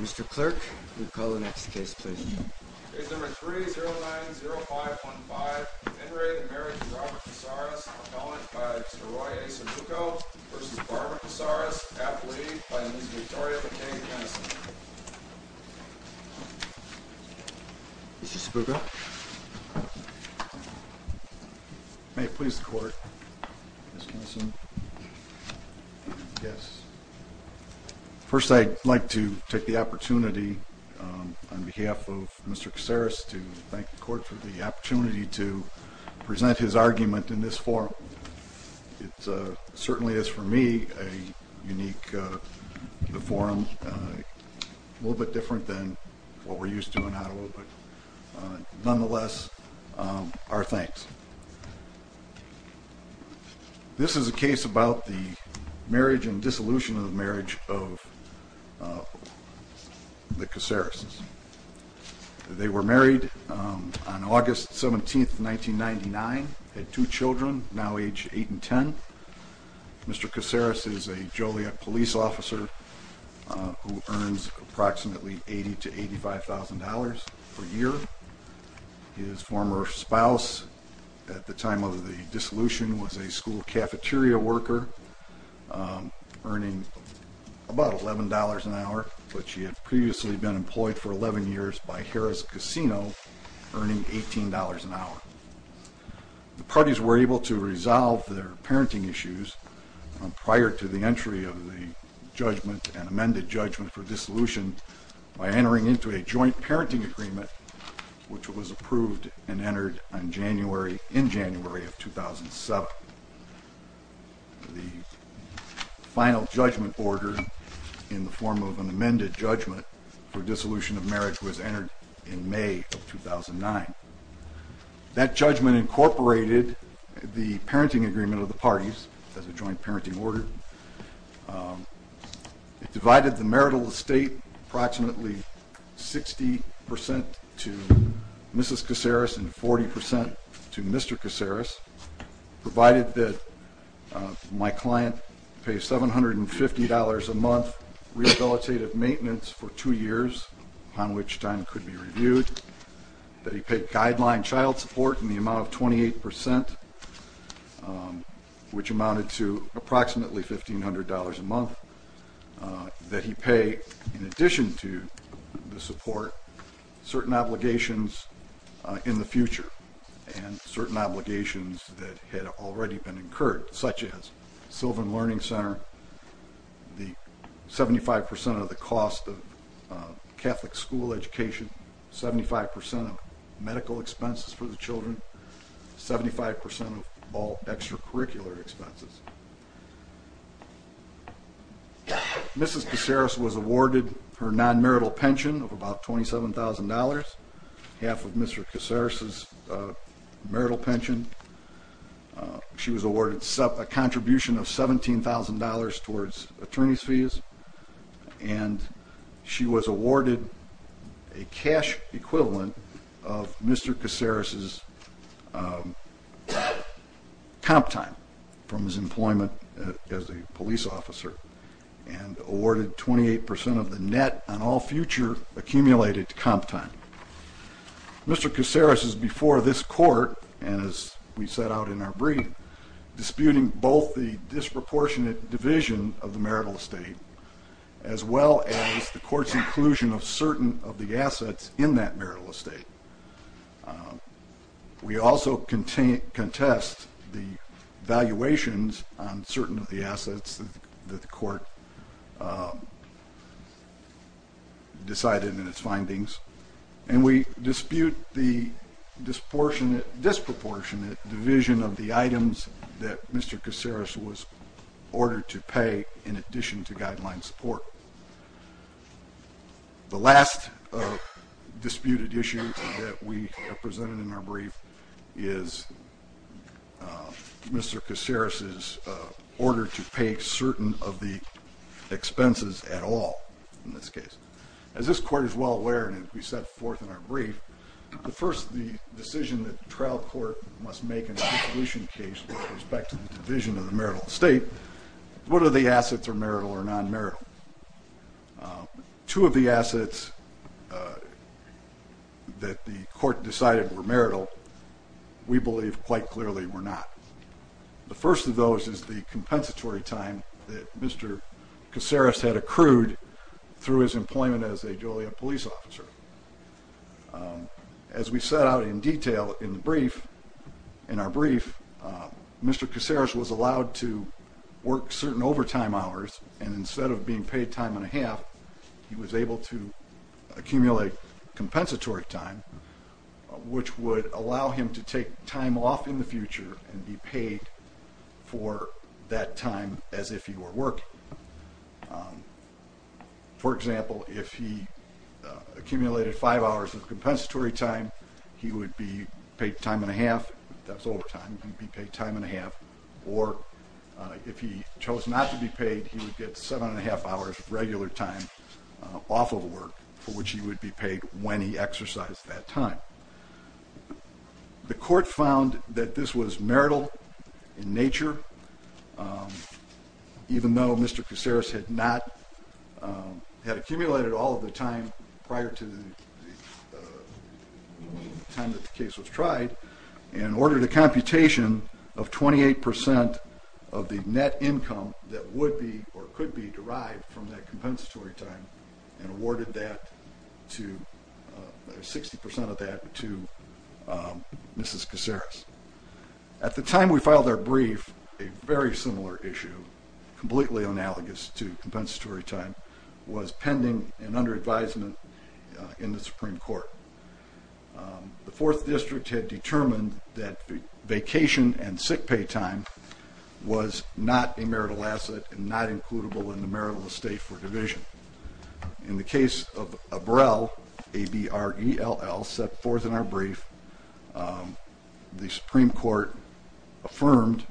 Mr. Clerk, you can call the next case please. Case number 3-090515, In re Marriage of Robert Casares, appellant by Mr. Roy A. Spooko vs. Barbara Casares, half lead by Ms. Victoria Fakai-Kenneson. Mr. Spooko. May it please the court. Ms. Kenneson. Yes. First I'd like to take the opportunity on behalf of Mr. Casares to thank the court for the opportunity to present his argument in this forum. It certainly is for me a unique forum, a little bit different than what we're used to in Ottawa, but nonetheless, our thanks. This is a case about the marriage and dissolution of the marriage of the Casares. They were married on August 17, 1999, had two children, now age 8 and 10. Mr. Casares is a Joliet police officer who earns approximately $80,000 to $85,000 per year. His former spouse at the time of the dissolution was a school cafeteria worker, earning about $11 an hour, but she had previously been employed for 11 years by Harris Casino, earning $18 an hour. The parties were able to resolve their parenting issues prior to the entry of the judgment and amended judgment for dissolution by entering into a joint parenting agreement, which was approved and entered in January of 2007. The final judgment order in the form of an amended judgment for dissolution of marriage was entered in May of 2009. That judgment incorporated the parenting agreement of the parties as a joint parenting order. It divided the marital estate approximately 60% to Mrs. Casares and 40% to Mr. Casares, provided that my client pays $750 a month rehabilitative maintenance for two years, upon which time could be reviewed, that he paid guideline child support in the amount of 28%, which amounted to approximately $1,500 a month, that he pay, in addition to the support, certain obligations in the future and certain obligations that had already been incurred, such as Sylvan Learning Center, the 75% of the cost of Catholic school education, 75% of medical expenses for the children, 75% of all extracurricular expenses. Mrs. Casares was awarded her non-marital pension of about $27,000, half of Mr. Casares' marital pension. She was awarded a contribution of $17,000 towards attorney's fees, and she was awarded a cash equivalent of Mr. Casares' comp time from his employment as a police officer, and awarded 28% of the net on all future accumulated comp time. Mr. Casares is before this court, and as we set out in our brief, disputing both the disproportionate division of the marital estate, as well as the court's inclusion of certain of the assets in that marital estate. We also contest the valuations on certain of the assets that the court decided in its findings, and we dispute the disproportionate division of the items that Mr. Casares was ordered to pay in addition to guideline support. The last disputed issue that we have presented in our brief is Mr. Casares' order to pay certain of the expenses at all in this case. As this court is well aware, and as we set forth in our brief, the first decision that the trial court must make in the conclusion case with respect to the division of the marital estate is whether the assets are marital or non-marital. Two of the assets that the court decided were marital, we believe quite clearly were not. The first of those is the compensatory time that Mr. Casares had accrued through his employment as a Joliet police officer. As we set out in detail in our brief, Mr. Casares was allowed to work certain overtime hours, and instead of being paid time and a half, he was able to accumulate compensatory time, which would allow him to take time off in the future and be paid for that time as if he were working. For example, if he accumulated five hours of compensatory time, he would be paid time and a half. That's overtime. He'd be paid time and a half. Or if he chose not to be paid, he would get seven and a half hours of regular time off of work, for which he would be paid when he exercised that time. The court found that this was marital in nature, even though Mr. Casares had accumulated all of the time prior to the time that the case was tried and ordered a computation of 28% of the net income that would be or could be derived from that compensatory time and awarded 60% of that to Mrs. Casares. At the time we filed our brief, a very similar issue, completely analogous to compensatory time, was pending and under advisement in the Supreme Court. The Fourth District had determined that vacation and sick pay time was not a marital asset and not includable in the marital estate for division. In the case of Abrell, A-B-R-E-L-L, set forth in our brief, the Supreme Court affirmed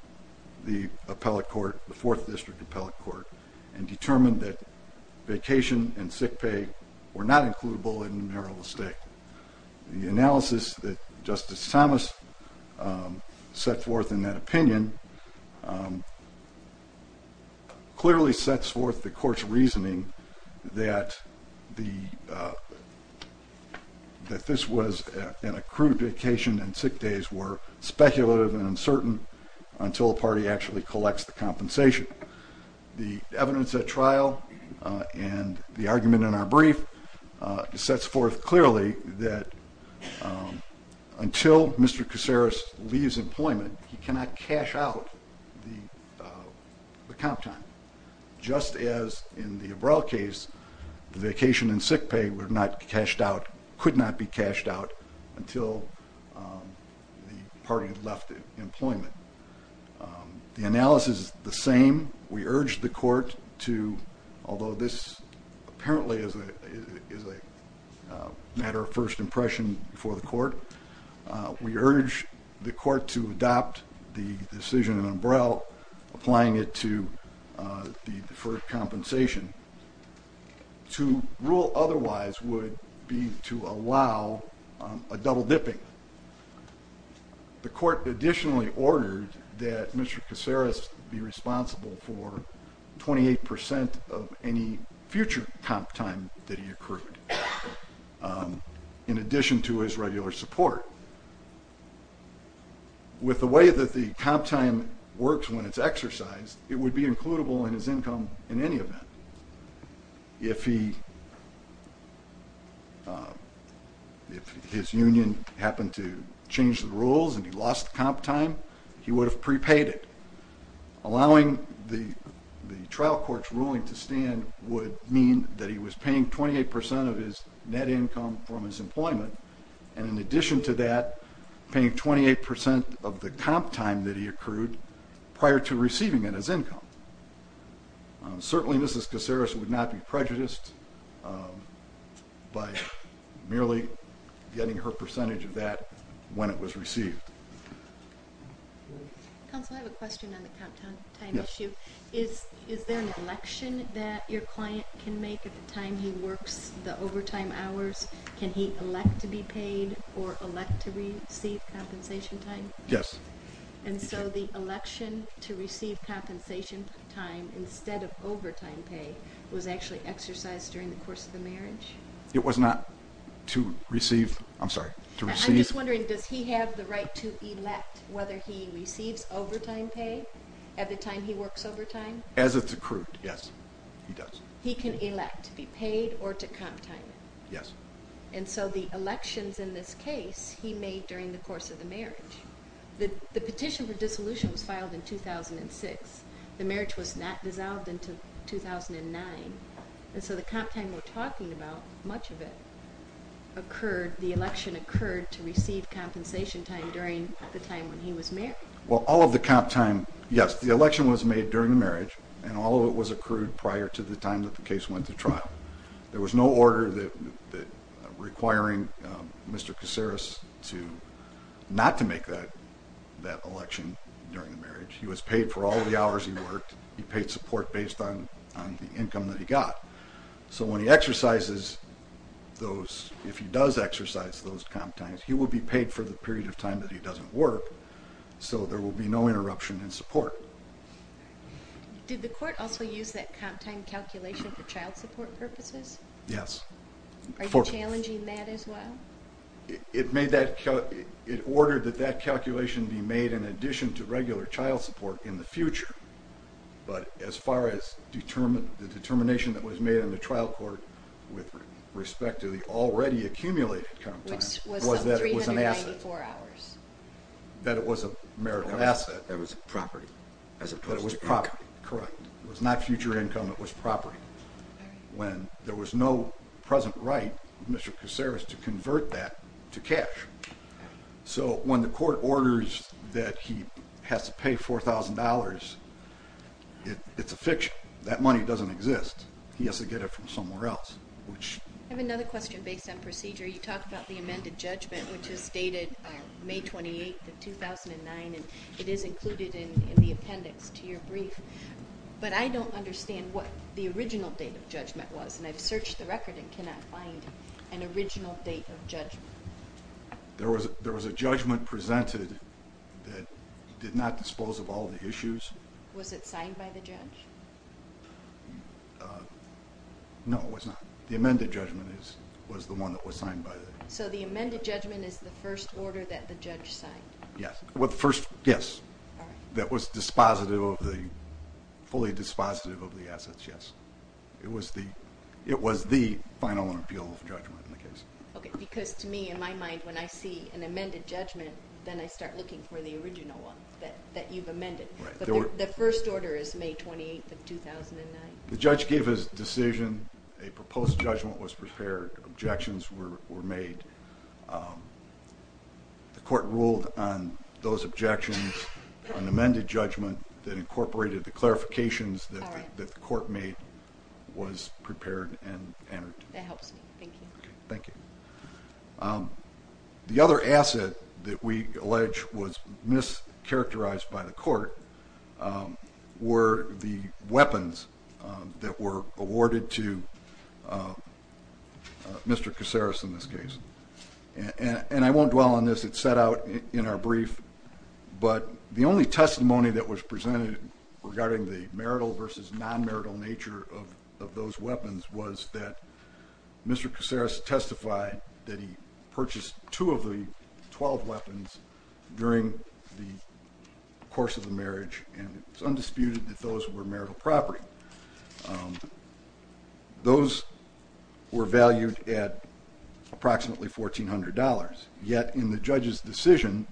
the appellate court, the Fourth District appellate court, and determined that vacation and sick pay were not includable in the marital estate. The analysis that Justice Thomas set forth in that opinion clearly sets forth the court's reasoning that this was an accrued vacation and sick days were speculative and uncertain until a party actually collects the compensation. The evidence at trial and the argument in our brief sets forth clearly that until Mr. Casares leaves employment, he cannot cash out the comp time. Just as in the Abrell case, the vacation and sick pay were not cashed out, could not be cashed out until the party had left employment. The analysis is the same. We urge the court to, although this apparently is a matter of first impression before the court, we urge the court to adopt the decision in Abrell, applying it to the deferred compensation. To rule otherwise would be to allow a double dipping. The court additionally ordered that Mr. Casares be responsible for 28% of any future comp time that he accrued in addition to his regular support. With the way that the comp time works when it's exercised, it would be includable in his income in any event. If his union happened to change the rules and he lost the comp time, he would have prepaid it. Allowing the trial court's ruling to stand would mean that he was paying 28% of his net income from his employment and in addition to that, paying 28% of the comp time that he accrued prior to receiving it as income. Certainly Mrs. Casares would not be prejudiced by merely getting her percentage of that when it was received. Counsel, I have a question on the comp time issue. Is there an election that your client can make at the time he works the overtime hours? Can he elect to be paid or elect to receive compensation time? Yes. And so the election to receive compensation time instead of overtime pay was actually exercised during the course of the marriage? It was not to receive, I'm sorry, to receive. I'm just wondering, does he have the right to elect whether he receives overtime pay at the time he works overtime? As it's accrued, yes, he does. He can elect to be paid or to comp time it? Yes. And so the elections in this case he made during the course of the marriage. The petition for dissolution was filed in 2006. The marriage was not dissolved until 2009. And so the comp time we're talking about, much of it occurred, the election occurred to receive compensation time during the time when he was married. Well, all of the comp time, yes, the election was made during the marriage and all of it was accrued prior to the time that the case went to trial. There was no order requiring Mr. Caceres not to make that election during the marriage. He was paid for all of the hours he worked. He paid support based on the income that he got. So when he exercises those, if he does exercise those comp times, he will be paid for the period of time that he doesn't work, so there will be no interruption in support. Did the court also use that comp time calculation for child support purposes? Yes. Are you challenging that as well? It ordered that that calculation be made in addition to regular child support in the future, but as far as the determination that was made in the trial court with respect to the already accumulated comp time was that it was an asset, that it was a marital asset. That it was property as opposed to income. That it was property, correct. It was not future income, it was property. When there was no present right, Mr. Caceres had to convert that to cash. So when the court orders that he has to pay $4,000, it's a fiction. That money doesn't exist. He has to get it from somewhere else. I have another question based on procedure. You talked about the amended judgment, which was stated May 28th of 2009, and it is included in the appendix to your brief. But I don't understand what the original date of judgment was, and I've searched the record and cannot find an original date of judgment. There was a judgment presented that did not dispose of all the issues. Was it signed by the judge? No, it was not. The amended judgment was the one that was signed by the judge. So the amended judgment is the first order that the judge signed? Yes, that was fully dispositive of the assets, yes. It was the final appeal of judgment in the case. Okay, because to me, in my mind, when I see an amended judgment, then I start looking for the original one that you've amended. The first order is May 28th of 2009? The judge gave his decision. A proposed judgment was prepared. Objections were made. The court ruled on those objections. An amended judgment that incorporated the clarifications that the court made was prepared and entered. That helps me. Thank you. Thank you. The other asset that we allege was mischaracterized by the court were the weapons that were awarded to Mr. Caceres in this case. And I won't dwell on this. It's set out in our brief. But the only testimony that was presented regarding the marital versus non-marital nature of those weapons was that Mr. Caceres testified that he purchased two of the 12 weapons during the course of the marriage, and it's undisputed that those were marital property. Those were valued at approximately $1,400. Yet in the judge's decision,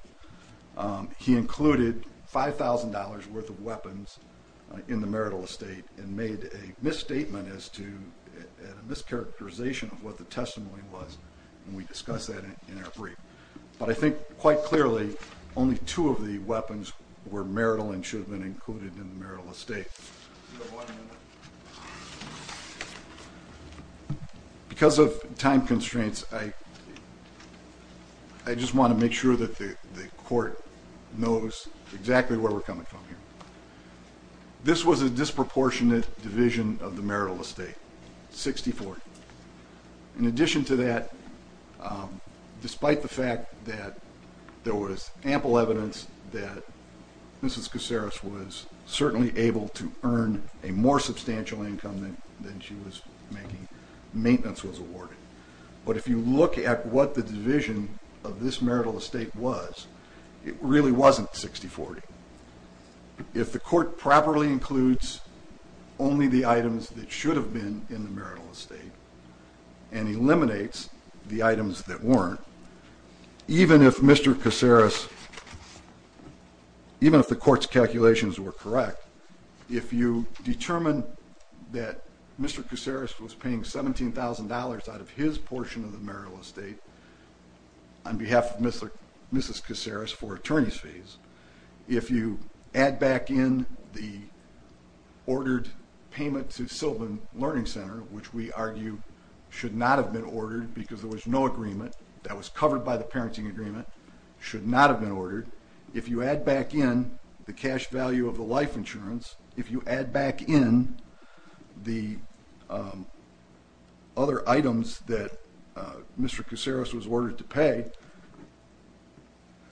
he included $5,000 worth of weapons in the marital estate and made a misstatement as to a mischaracterization of what the testimony was, and we discuss that in our brief. But I think quite clearly only two of the weapons were marital and should have been included in the marital estate. Because of time constraints, I just want to make sure that the court knows exactly where we're coming from here. This was a disproportionate division of the marital estate, 60-40. In addition to that, despite the fact that there was ample evidence that Mrs. Caceres was certainly able to earn a more substantial income than she was making, maintenance was awarded. But if you look at what the division of this marital estate was, it really wasn't 60-40. If the court properly includes only the items that should have been in the marital estate and eliminates the items that weren't, even if Mr. Caceres, even if the court's calculations were correct, if you determine that Mr. Caceres was paying $17,000 out of his portion of the marital estate on behalf of Mrs. Caceres for attorney's fees, if you add back in the ordered payment to Sylvan Learning Center, which we argue should not have been ordered because there was no agreement that was covered by the parenting agreement, should not have been ordered. If you add back in the cash value of the life insurance, if you add back in the other items that Mr. Caceres was ordered to pay,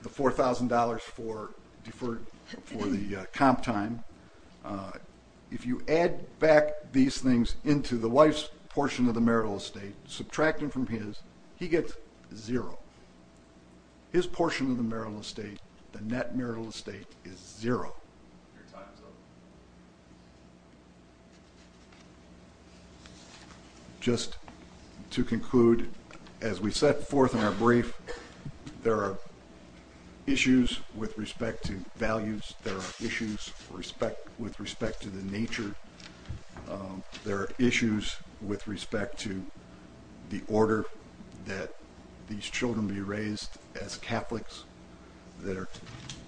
the $4,000 for the comp time, if you add back these things into the wife's portion of the marital estate, subtracting from his, he gets zero. His portion of the marital estate, the net marital estate, is zero. Your time is up. Just to conclude, as we set forth in our brief, there are issues with respect to values. There are issues with respect to the nature. There are issues with respect to the order that these children be raised as Catholics. They're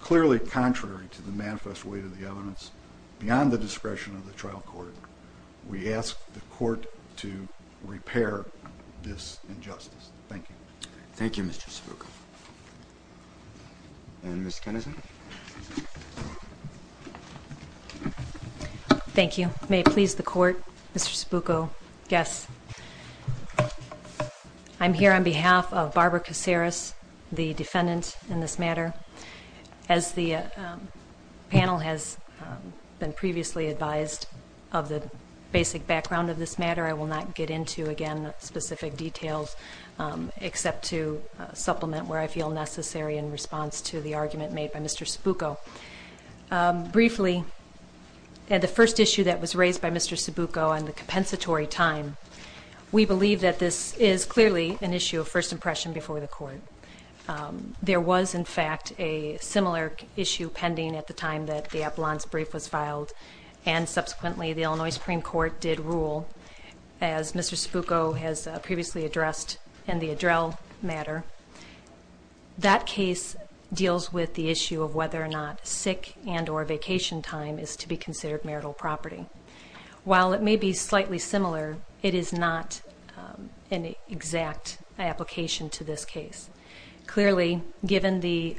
clearly contrary to the manifest way to the evidence beyond the discretion of the trial court. We ask the court to repair this injustice. Thank you. Thank you, Mr. Spooko. And Ms. Kenneson. Thank you. May it please the court, Mr. Spooko? Yes. I'm here on behalf of Barbara Caceres, the defendant in this matter. As the panel has been previously advised of the basic background of this matter, I will not get into, again, specific details except to supplement where I feel necessary in response to the argument made by Mr. Spooko. Briefly, the first issue that was raised by Mr. Spooko on the compensatory time, we believe that this is clearly an issue of first impression before the court. There was, in fact, a similar issue pending at the time that the Appellant's brief was filed, and subsequently the Illinois Supreme Court did rule, as Mr. Spooko has previously addressed, and the Addrell matter, that case deals with the issue of whether or not sick and or vacation time is to be considered marital property. While it may be slightly similar, it is not an exact application to this case. Clearly, given the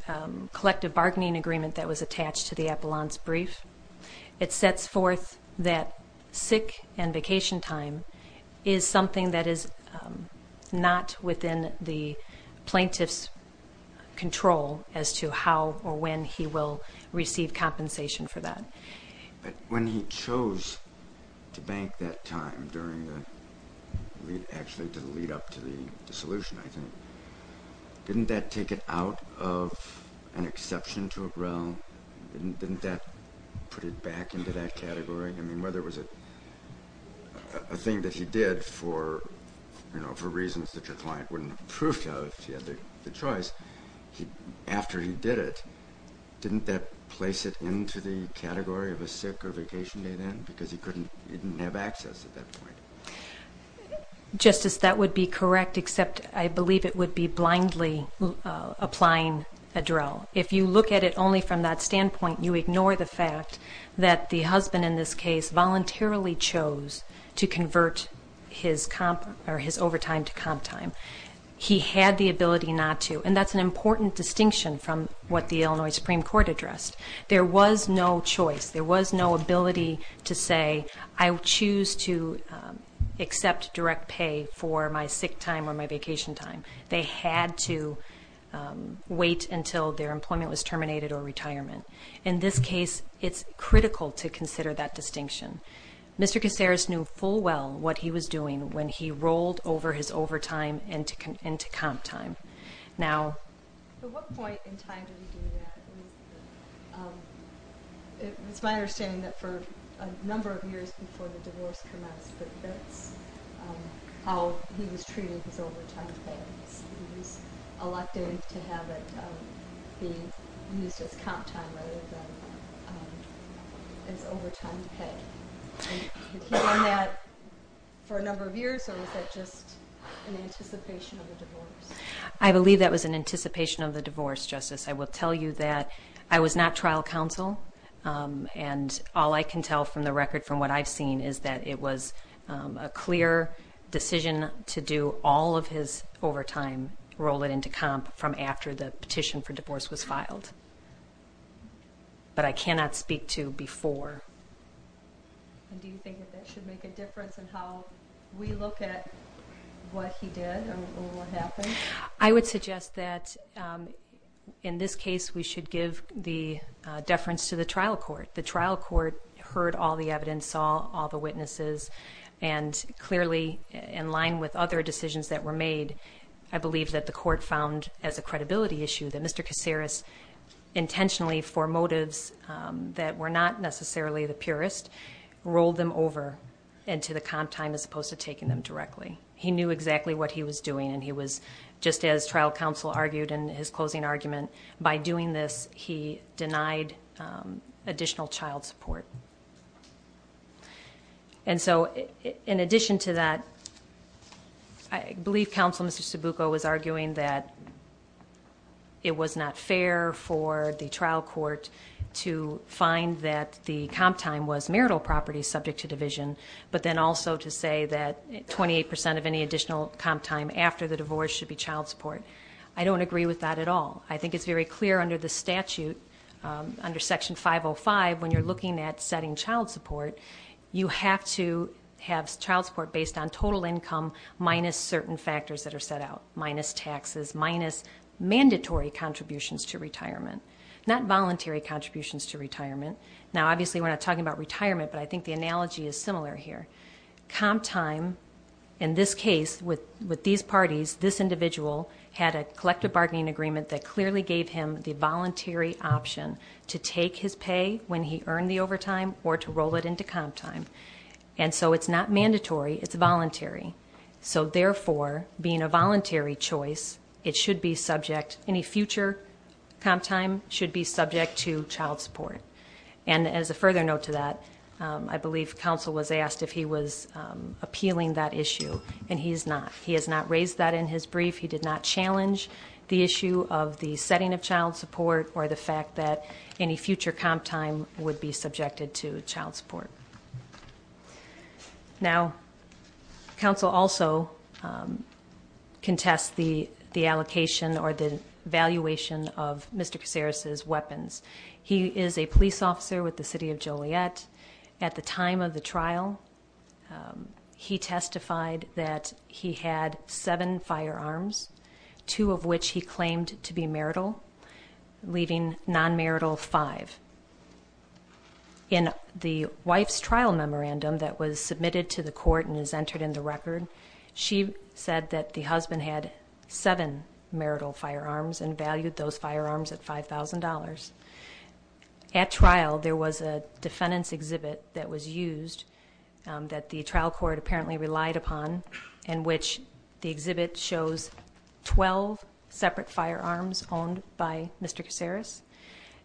collective bargaining agreement that was attached to the Appellant's brief, it sets forth that sick and vacation time is something that is not within the plaintiff's control as to how or when he will receive compensation for that. But when he chose to bank that time during the, actually to lead up to the dissolution, I think, didn't that take it out of an exception to Addrell? Didn't that put it back into that category? I mean, whether it was a thing that he did for reasons that your client wouldn't approve of, if he had the choice, after he did it, didn't that place it into the category of a sick or vacation day then? Because he didn't have access at that point. Justice, that would be correct, except I believe it would be blindly applying Addrell. If you look at it only from that standpoint, you ignore the fact that the husband in this case voluntarily chose to convert his overtime to comp time. He had the ability not to, and that's an important distinction from what the Illinois Supreme Court addressed. There was no choice. There was no ability to say, I choose to accept direct pay for my sick time or my vacation time. They had to wait until their employment was terminated or retirement. In this case, it's critical to consider that distinction. Mr. Kaceres knew full well what he was doing when he rolled over his overtime into comp time. At what point in time did he do that? It's my understanding that for a number of years before the divorce commenced, but that's how he was treating his overtime pay. He was elected to have it be used as comp time rather than as overtime pay. He did that for a number of years, or was that just an anticipation of the divorce? I believe that was an anticipation of the divorce, Justice. I will tell you that I was not trial counsel, and all I can tell from the record from what I've seen is that it was a clear decision to do all of his overtime, roll it into comp, from after the petition for divorce was filed. But I cannot speak to before. Do you think that that should make a difference in how we look at what he did or what happened? I would suggest that in this case we should give the deference to the trial court. The trial court heard all the evidence, saw all the witnesses, and clearly in line with other decisions that were made, I believe that the court found as a credibility issue that Mr. Caceres intentionally, for motives that were not necessarily the purest, rolled them over into the comp time as opposed to taking them directly. He knew exactly what he was doing, and he was, just as trial counsel argued in his closing argument, by doing this he denied additional child support. And so in addition to that, I believe Counselor Mr. Sabuco was arguing that it was not fair for the trial court to find that the comp time was marital property subject to division, but then also to say that 28% of any additional comp time after the divorce should be child support. I don't agree with that at all. I think it's very clear under the statute, under Section 505, when you're looking at setting child support, you have to have child support based on total income minus certain factors that are set out, minus taxes, minus mandatory contributions to retirement, not voluntary contributions to retirement. Now obviously we're not talking about retirement, but I think the analogy is similar here. Comp time, in this case, with these parties, this individual had a collective bargaining agreement that clearly gave him the voluntary option to take his pay when he earned the overtime or to roll it into comp time. And so it's not mandatory, it's voluntary. So therefore, being a voluntary choice, it should be subject, any future comp time should be subject to child support. And as a further note to that, I believe counsel was asked if he was appealing that issue, and he's not. He has not raised that in his brief. He did not challenge the issue of the setting of child support or the fact that any future comp time would be subjected to child support. Now, counsel also contests the allocation or the valuation of Mr. Casares' weapons. He is a police officer with the city of Joliet. At the time of the trial, he testified that he had seven firearms, two of which he claimed to be marital, leaving non-marital five. In the wife's trial memorandum that was submitted to the court and is entered in the record, she said that the husband had seven marital firearms and valued those firearms at $5,000. At trial, there was a defendant's exhibit that was used that the trial court apparently relied upon in which the exhibit shows 12 separate firearms owned by Mr. Casares.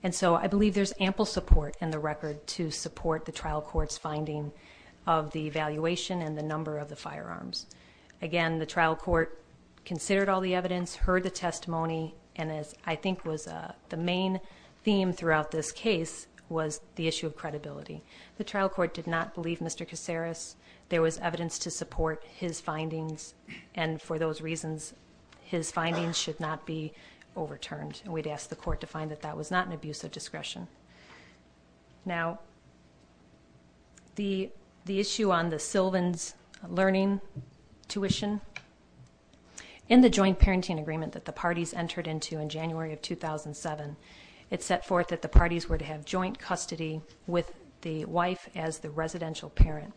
And so I believe there's ample support in the record to support the trial court's finding of the valuation and the number of the firearms. Again, the trial court considered all the evidence, heard the testimony, and as I think was the main theme throughout this case was the issue of credibility. The trial court did not believe Mr. Casares. There was evidence to support his findings, and for those reasons, his findings should not be overturned. And we'd ask the court to find that that was not an abuse of discretion. Now, the issue on the Sylvan's learning tuition, in the joint parenting agreement that the parties entered into in January of 2007, it set forth that the parties were to have joint custody with the wife as the residential parent.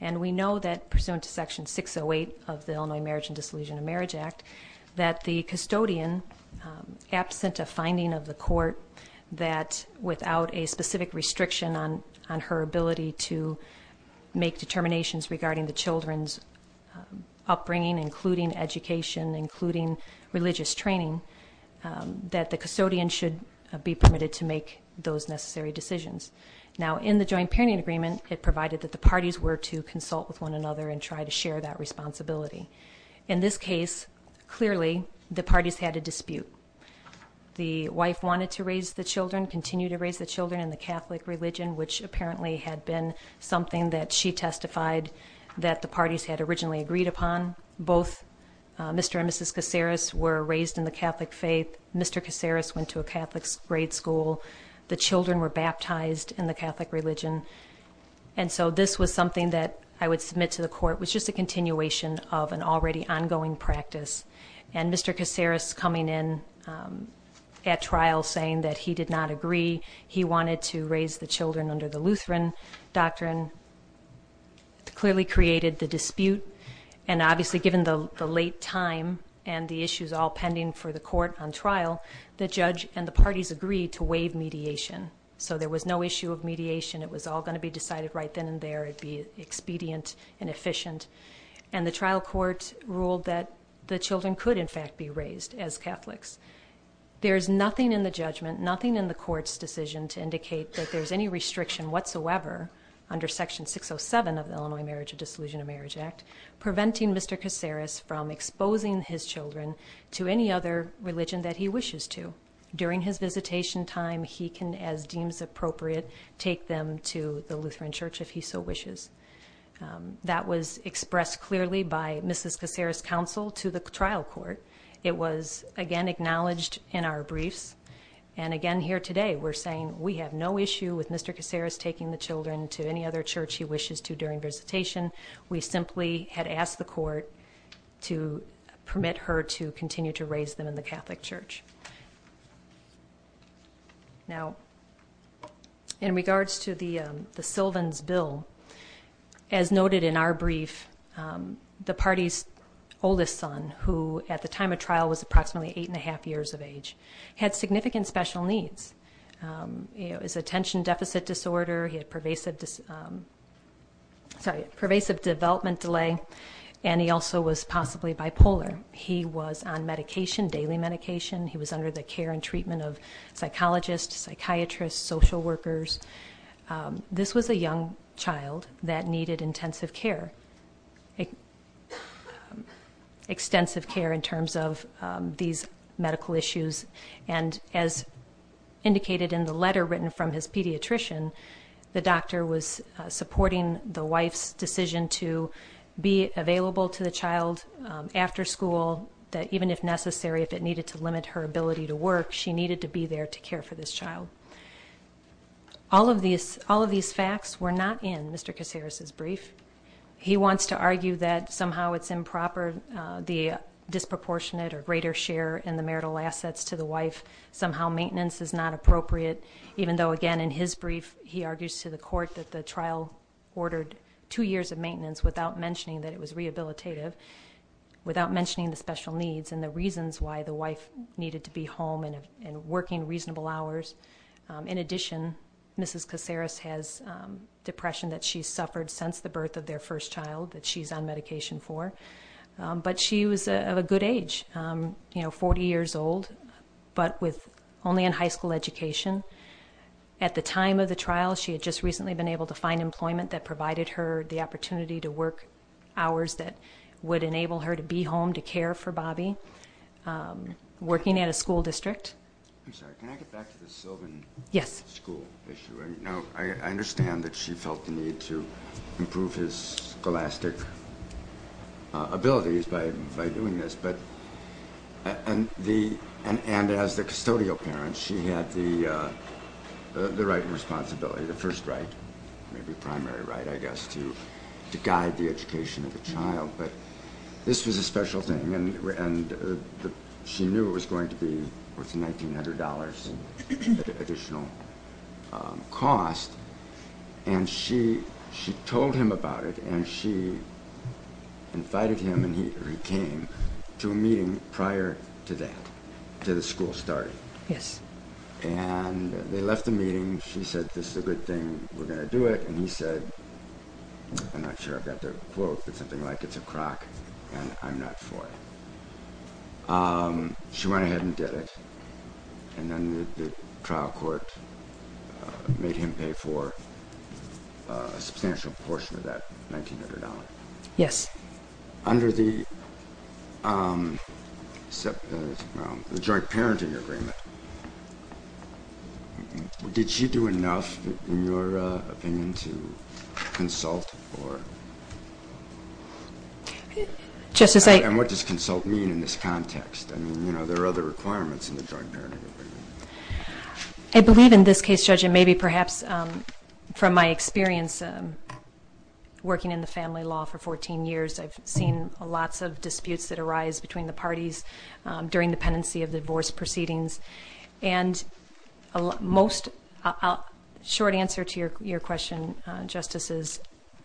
And we know that, pursuant to Section 608 of the Illinois Marriage and Disillusionment Marriage Act, that the custodian, absent a finding of the court that without a specific restriction on her ability to make determinations regarding the children's upbringing, including education, including religious training, that the custodian should be permitted to make those necessary decisions. Now, in the joint parenting agreement, it provided that the parties were to consult with one another and try to share that responsibility. In this case, clearly, the parties had a dispute. The wife wanted to raise the children, continue to raise the children in the Catholic religion, which apparently had been something that she testified that the parties had originally agreed upon. Both Mr. and Mrs. Casares were raised in the Catholic faith. Mr. Casares went to a Catholic grade school. The children were baptized in the Catholic religion. And so this was something that I would submit to the court, which is a continuation of an already ongoing practice. And Mr. Casares coming in at trial saying that he did not agree, he wanted to raise the children under the Lutheran doctrine, clearly created the dispute. And obviously, given the late time and the issues all pending for the court on trial, the judge and the parties agreed to waive mediation. So there was no issue of mediation. It was all going to be decided right then and there. It would be expedient and efficient. And the trial court ruled that the children could, in fact, be raised as Catholics. There is nothing in the judgment, nothing in the court's decision to indicate that there's any restriction whatsoever under Section 607 of the Illinois Marriage and Disillusionment Marriage Act preventing Mr. Casares from exposing his children to any other religion that he wishes to. During his visitation time, he can, as deems appropriate, take them to the Lutheran church if he so wishes. That was expressed clearly by Mrs. Casares' counsel to the trial court. It was, again, acknowledged in our briefs. And again, here today, we're saying we have no issue with Mr. Casares taking the children to any other church he wishes to during visitation. We simply had asked the court to permit her to continue to raise them in the Catholic church. Now, in regards to the Sylvans bill, as noted in our brief, the party's oldest son, who at the time of trial was approximately 8 1⁄2 years of age, had significant special needs. His attention deficit disorder, he had pervasive development delay, and he also was possibly bipolar. He was on medication, daily medication. He was under the care and treatment of psychologists, psychiatrists, social workers. This was a young child that needed intensive care, extensive care in terms of these medical issues. And as indicated in the letter written from his pediatrician, the doctor was supporting the wife's decision to be available to the child after school, that even if necessary, if it needed to limit her ability to work, she needed to be there to care for this child. All of these facts were not in Mr. Casares' brief. He wants to argue that somehow it's improper, the disproportionate or greater share in the marital assets to the wife. Somehow maintenance is not appropriate, even though, again, in his brief, he argues to the court that the trial ordered two years of maintenance without mentioning that it was rehabilitative, without mentioning the special needs and the reasons why the wife needed to be home and working reasonable hours. In addition, Mrs. Casares has depression that she's suffered since the birth of their first child that she's on medication for. But she was of a good age, 40 years old, but only in high school education. At the time of the trial, she had just recently been able to find employment that provided her the opportunity to work hours that would enable her to be home to care for Bobby, working at a school district. I'm sorry, can I get back to the Sylvan school issue? Now, I understand that she felt the need to improve his scholastic abilities by doing this, and as the custodial parent, she had the right and responsibility, the first right, maybe primary right, I guess, to guide the education of the child, but this was a special thing, and she knew it was going to be worth $1,900 additional cost, and she told him about it, and she invited him, and he came to a meeting prior to that, to the school starting. And they left the meeting, she said, this is a good thing, we're going to do it, and he said, I'm not sure if that's a quote, but something like, it's a crock, and I'm not for it. She went ahead and did it, and then the trial court made him pay for a substantial portion of that $1,900. Yes. Under the joint parenting agreement, did she do enough, in your opinion, to consult? Justice, I And what does consult mean in this context? I mean, you know, there are other requirements in the joint parenting agreement. I believe in this case, Judge, and maybe perhaps from my experience working in the family law for 14 years, I've seen lots of disputes that arise between the parties during the pendency of divorce proceedings, and a short answer to your question, Justice, is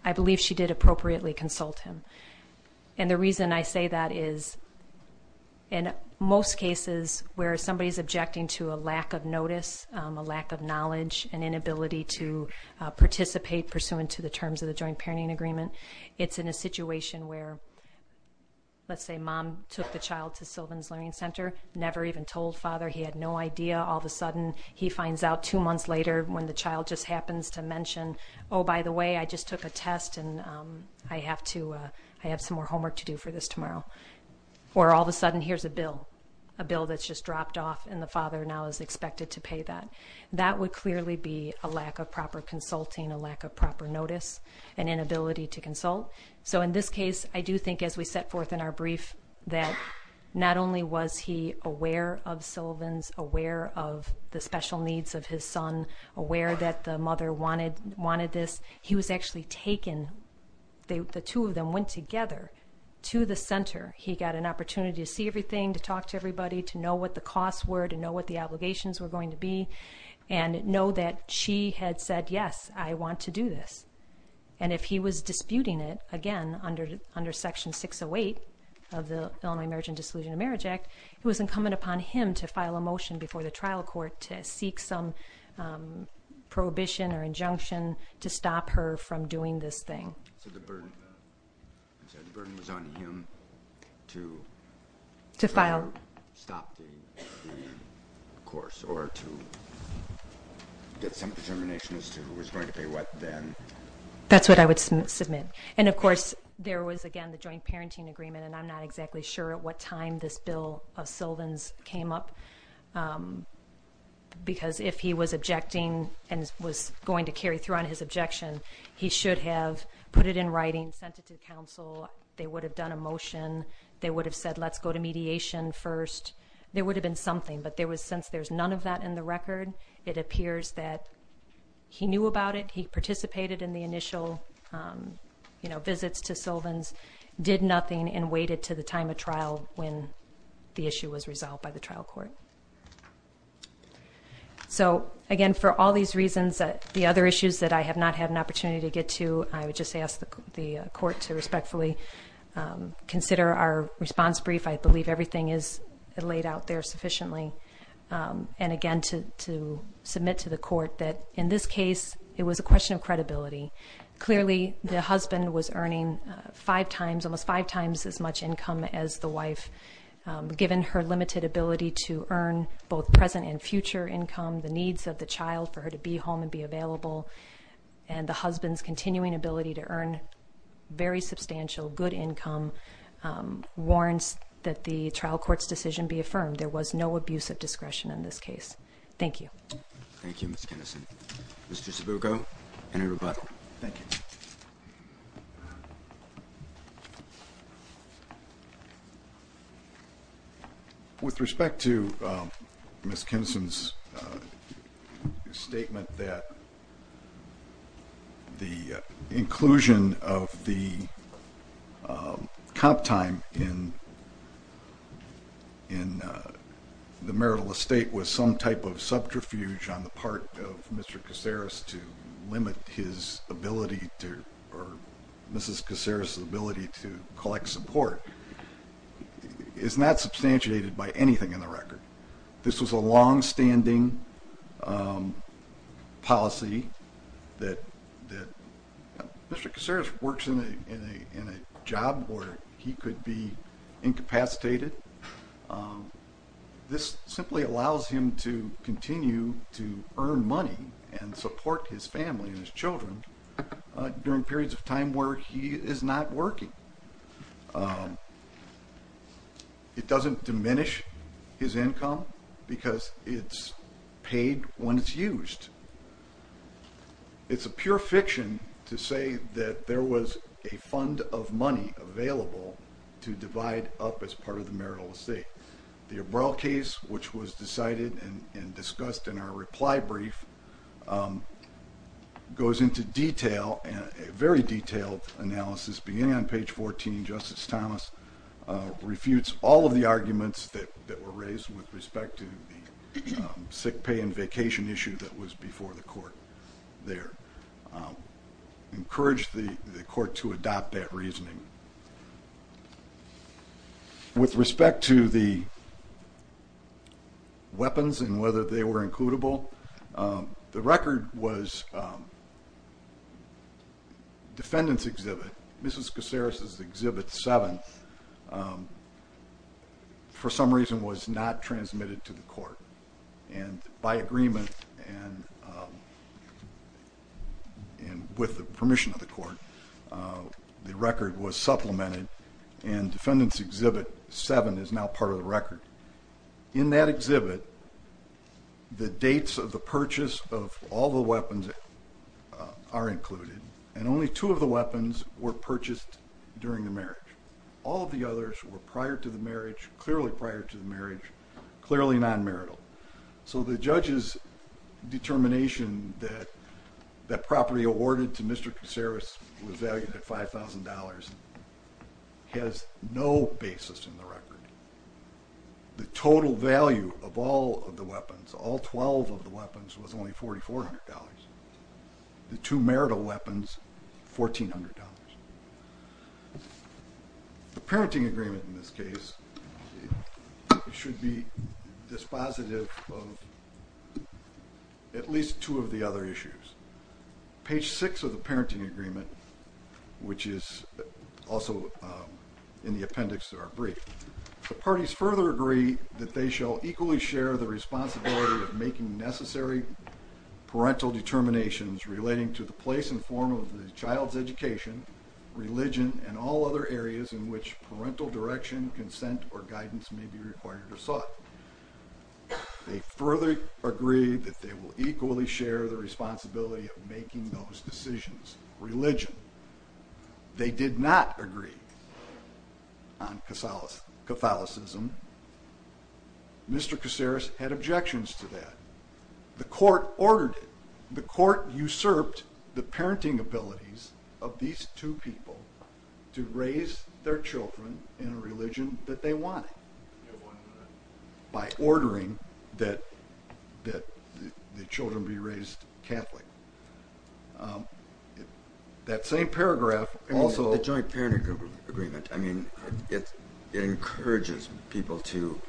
I believe she did appropriately consult him. And the reason I say that is, in most cases where somebody's objecting to a lack of notice, a lack of knowledge, an inability to participate pursuant to the terms of the joint parenting agreement, it's in a situation where, let's say mom took the child to Sylvan's Learning Center, never even told father, he had no idea, all of a sudden he finds out two months later when the child just happens to mention, oh, by the way, I just took a test, and I have some more homework to do for this tomorrow. Or all of a sudden, here's a bill, a bill that's just dropped off, and the father now is expected to pay that. That would clearly be a lack of proper consulting, a lack of proper notice, an inability to consult. So in this case, I do think as we set forth in our brief that not only was he aware of Sylvan's, aware of the special needs of his son, aware that the mother wanted this, he was actually taken. The two of them went together to the center. He got an opportunity to see everything, to talk to everybody, to know what the costs were, to know what the obligations were going to be, and know that she had said, yes, I want to do this. And if he was disputing it, again, under Section 608 of the Illinois Marriage and Dissolution of Marriage Act, it was incumbent upon him to file a motion before the trial court to seek some prohibition or injunction to stop her from doing this thing. So the burden was on him to stop the course or to get some determination as to who was going to pay what then? That's what I would submit. And, of course, there was, again, the joint parenting agreement, and I'm not exactly sure at what time this bill of Sylvan's came up, because if he was objecting and was going to carry through on his objection, he should have put it in writing, sent it to counsel. They would have done a motion. They would have said, let's go to mediation first. There would have been something, but since there's none of that in the record, it appears that he knew about it, he participated in the initial visits to Sylvan's, did nothing, and waited to the time of trial when the issue was resolved by the trial court. So, again, for all these reasons, the other issues that I have not had an opportunity to get to, I would just ask the court to respectfully consider our response brief. I believe everything is laid out there sufficiently. And, again, to submit to the court that, in this case, it was a question of credibility. Clearly, the husband was earning five times, almost five times as much income as the wife, given her limited ability to earn both present and future income, the needs of the child for her to be home and be available, and the husband's continuing ability to earn very substantial good income warrants that the trial court's decision be affirmed. There was no abuse of discretion in this case. Thank you. Thank you, Ms. Kinnison. Mr. Sabuco, any rebuttal? Thank you. With respect to Ms. Kinnison's statement that the inclusion of the comp time in the marital estate was some type of subterfuge on the part of Mr. Caceres to limit his ability to, or Mrs. Caceres' ability to collect support, is not substantiated by anything in the record. This was a longstanding policy that Mr. Caceres works in a job where he could be incapacitated. This simply allows him to continue to earn money and support his family and his children during periods of time where he is not working. It doesn't diminish his income because it's paid when it's used. It's a pure fiction to say that there was a fund of money available to divide up as part of the marital estate. The Abrel case, which was decided and discussed in our reply brief, goes into detail, a very detailed analysis beginning on page 14. Justice Thomas refutes all of the arguments that were raised with respect to the sick pay and vacation issue that was before the court there. Encourage the court to adopt that reasoning. With respect to the weapons and whether they were includable, the record was defendant's exhibit. Mrs. Caceres' exhibit 7, for some reason, was not transmitted to the court. By agreement and with the permission of the court, the record was supplemented, and defendant's exhibit 7 is now part of the record. In that exhibit, the dates of the purchase of all the weapons are included, and only two of the weapons were purchased during the marriage. All of the others were prior to the marriage, clearly prior to the marriage, clearly non-marital. So the judge's determination that that property awarded to Mr. Caceres was valued at $5,000 has no basis in the record. The total value of all of the weapons, all 12 of the weapons, was only $4,400. The two marital weapons, $1,400. The parenting agreement in this case should be dispositive of at least two of the other issues. Page 6 of the parenting agreement, which is also in the appendix to our brief, The parties further agree that they shall equally share the responsibility of making necessary parental determinations relating to the place and form of the child's education, religion, and all other areas in which parental direction, consent, or guidance may be required or sought. They further agree that they will equally share the responsibility of making those decisions. Religion. They did not agree on Catholicism. Mr. Caceres had objections to that. The court ordered it. The court usurped the parenting abilities of these two people to raise their children in a religion that they wanted by ordering that the children be raised Catholic. That same paragraph also... The joint parenting agreement, I mean, it encourages people to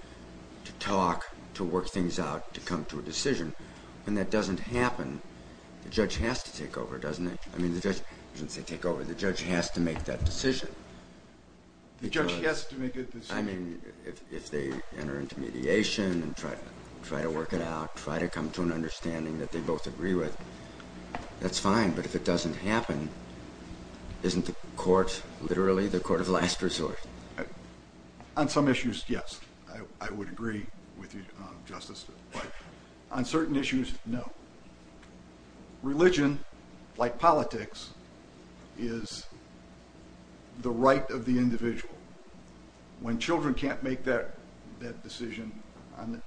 talk, to work things out, to come to a decision. When that doesn't happen, the judge has to take over, doesn't it? I mean, the judge doesn't say take over. The judge has to make that decision. The judge has to make a decision. I mean, if they enter into mediation and try to work it out, try to come to an understanding that they both agree with, that's fine. But if it doesn't happen, isn't the court literally the court of last resort? On some issues, yes, I would agree with you, Justice, but on certain issues, no. Religion, like politics, is the right of the individual. When children can't make that decision,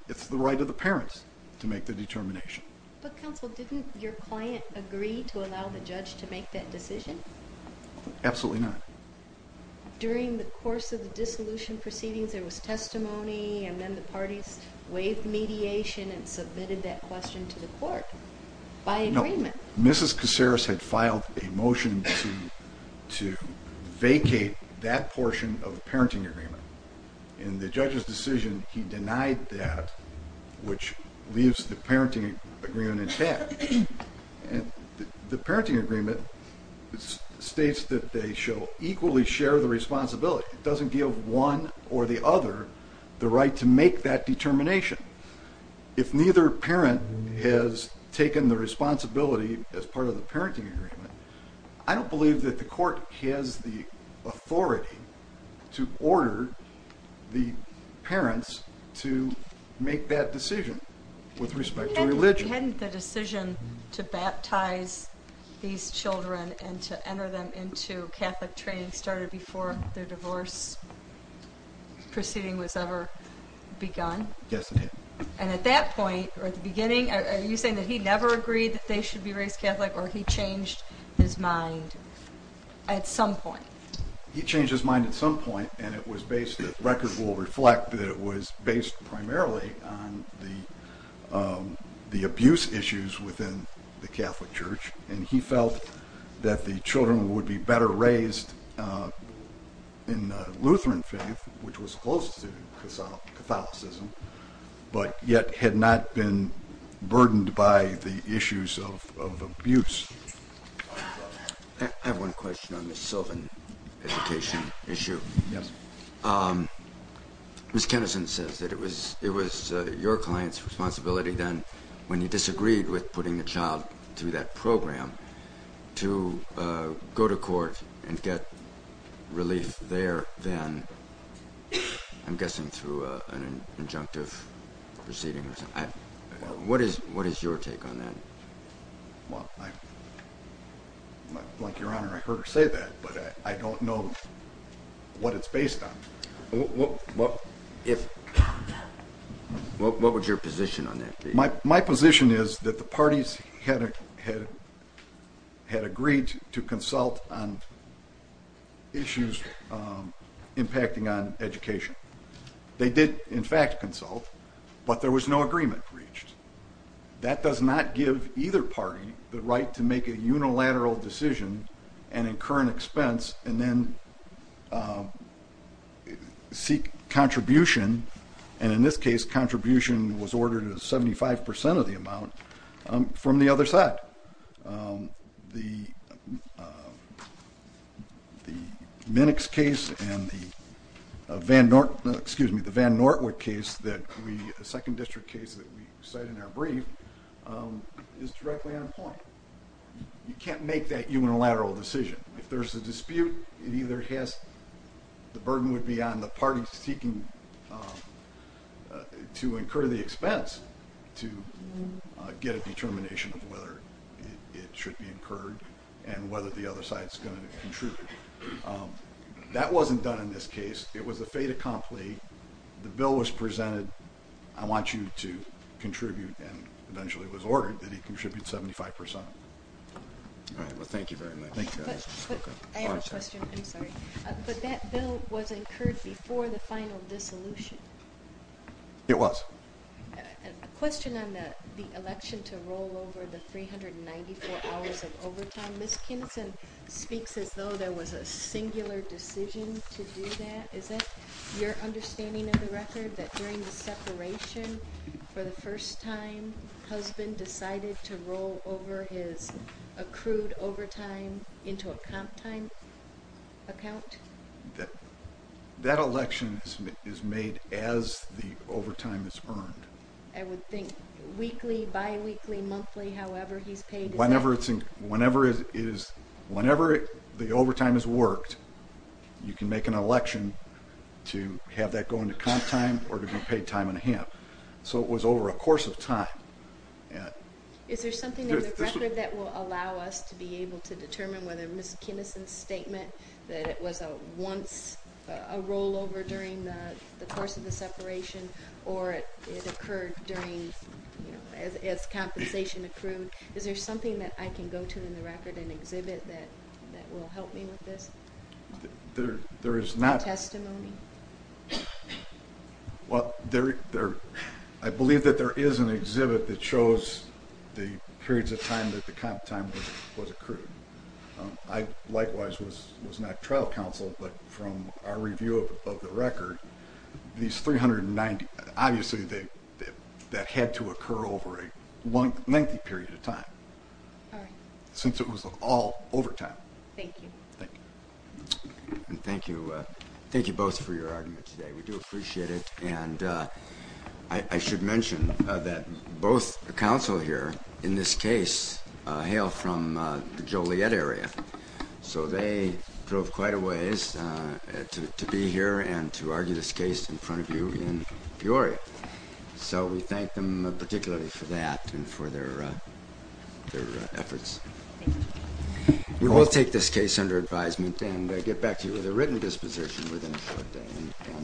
it's the right of the parents to make the determination. But, counsel, didn't your client agree to allow the judge to make that decision? Absolutely not. During the course of the dissolution proceedings, there was testimony, and then the parties waived mediation and submitted that question to the court by agreement. Mrs. Caceres had filed a motion to vacate that portion of the parenting agreement. In the judge's decision, he denied that, which leaves the parenting agreement intact. The parenting agreement states that they shall equally share the responsibility. It doesn't give one or the other the right to make that determination. If neither parent has taken the responsibility as part of the parenting agreement, I don't believe that the court has the authority to order the parents to make that decision with respect to religion. Hadn't the decision to baptize these children and to enter them into Catholic training started before their divorce proceeding was ever begun? Yes, it had. And at that point, or at the beginning, are you saying that he never agreed that they should be raised Catholic, or he changed his mind at some point? He changed his mind at some point, and it was based, the record will reflect, that it was based primarily on the abuse issues within the Catholic Church, and he felt that the children would be better raised in Lutheran faith, which was close to Catholicism, but yet had not been burdened by the issues of abuse. I have one question on the Sylvan education issue. Yes. Ms. Kennison says that it was your client's responsibility then, when you disagreed with putting the child through that program, to go to court and get relief there then, I'm guessing through an injunctive proceeding. What is your take on that? Well, Your Honor, I heard her say that, but I don't know what it's based on. What would your position on that be? My position is that the parties had agreed to consult on issues impacting on education. They did, in fact, consult, but there was no agreement reached. That does not give either party the right to make a unilateral decision and incur an expense and then seek contribution, and in this case, contribution was ordered at 75 percent of the amount, from the other side. The Minnix case and the Van Nortwood case, the second district case that we cite in our brief, is directly on point. You can't make that unilateral decision. If there's a dispute, the burden would be on the parties seeking to incur the expense to get a determination of whether it should be incurred and whether the other side is going to contribute. That wasn't done in this case. It was a fait accompli. The bill was presented. I want you to contribute, and eventually it was ordered that he contribute 75 percent. All right. Well, thank you very much. I have a question. I'm sorry. But that bill was incurred before the final dissolution. It was. A question on the election to roll over the 394 hours of overtime. Ms. Kinson speaks as though there was a singular decision to do that. Is that your understanding of the record, that during the separation, for the first time, husband decided to roll over his accrued overtime into a comp time account? That election is made as the overtime is earned. I would think weekly, biweekly, monthly, however he's paid. Whenever the overtime has worked, you can make an election to have that go into comp time or to be paid time and a half. So it was over a course of time. Is there something in the record that will allow us to be able to determine whether Ms. Kinson's statement that it was once a rollover during the course of the separation or it occurred during, as compensation accrued, is there something that I can go to in the record, an exhibit, that will help me with this? There is not. Testimony? Well, I believe that there is an exhibit that shows the periods of time that the comp time was accrued. I likewise was not trial counsel, but from our review of the record, these 390, obviously that had to occur over a lengthy period of time since it was all overtime. Thank you. And thank you both for your argument today. We do appreciate it. And I should mention that both counsel here in this case hail from the Joliet area, so they drove quite a ways to be here and to argue this case in front of you in Peoria. So we thank them particularly for that and for their efforts. Thank you. We will take this case under advisement and get back to you with a written disposition within a short time.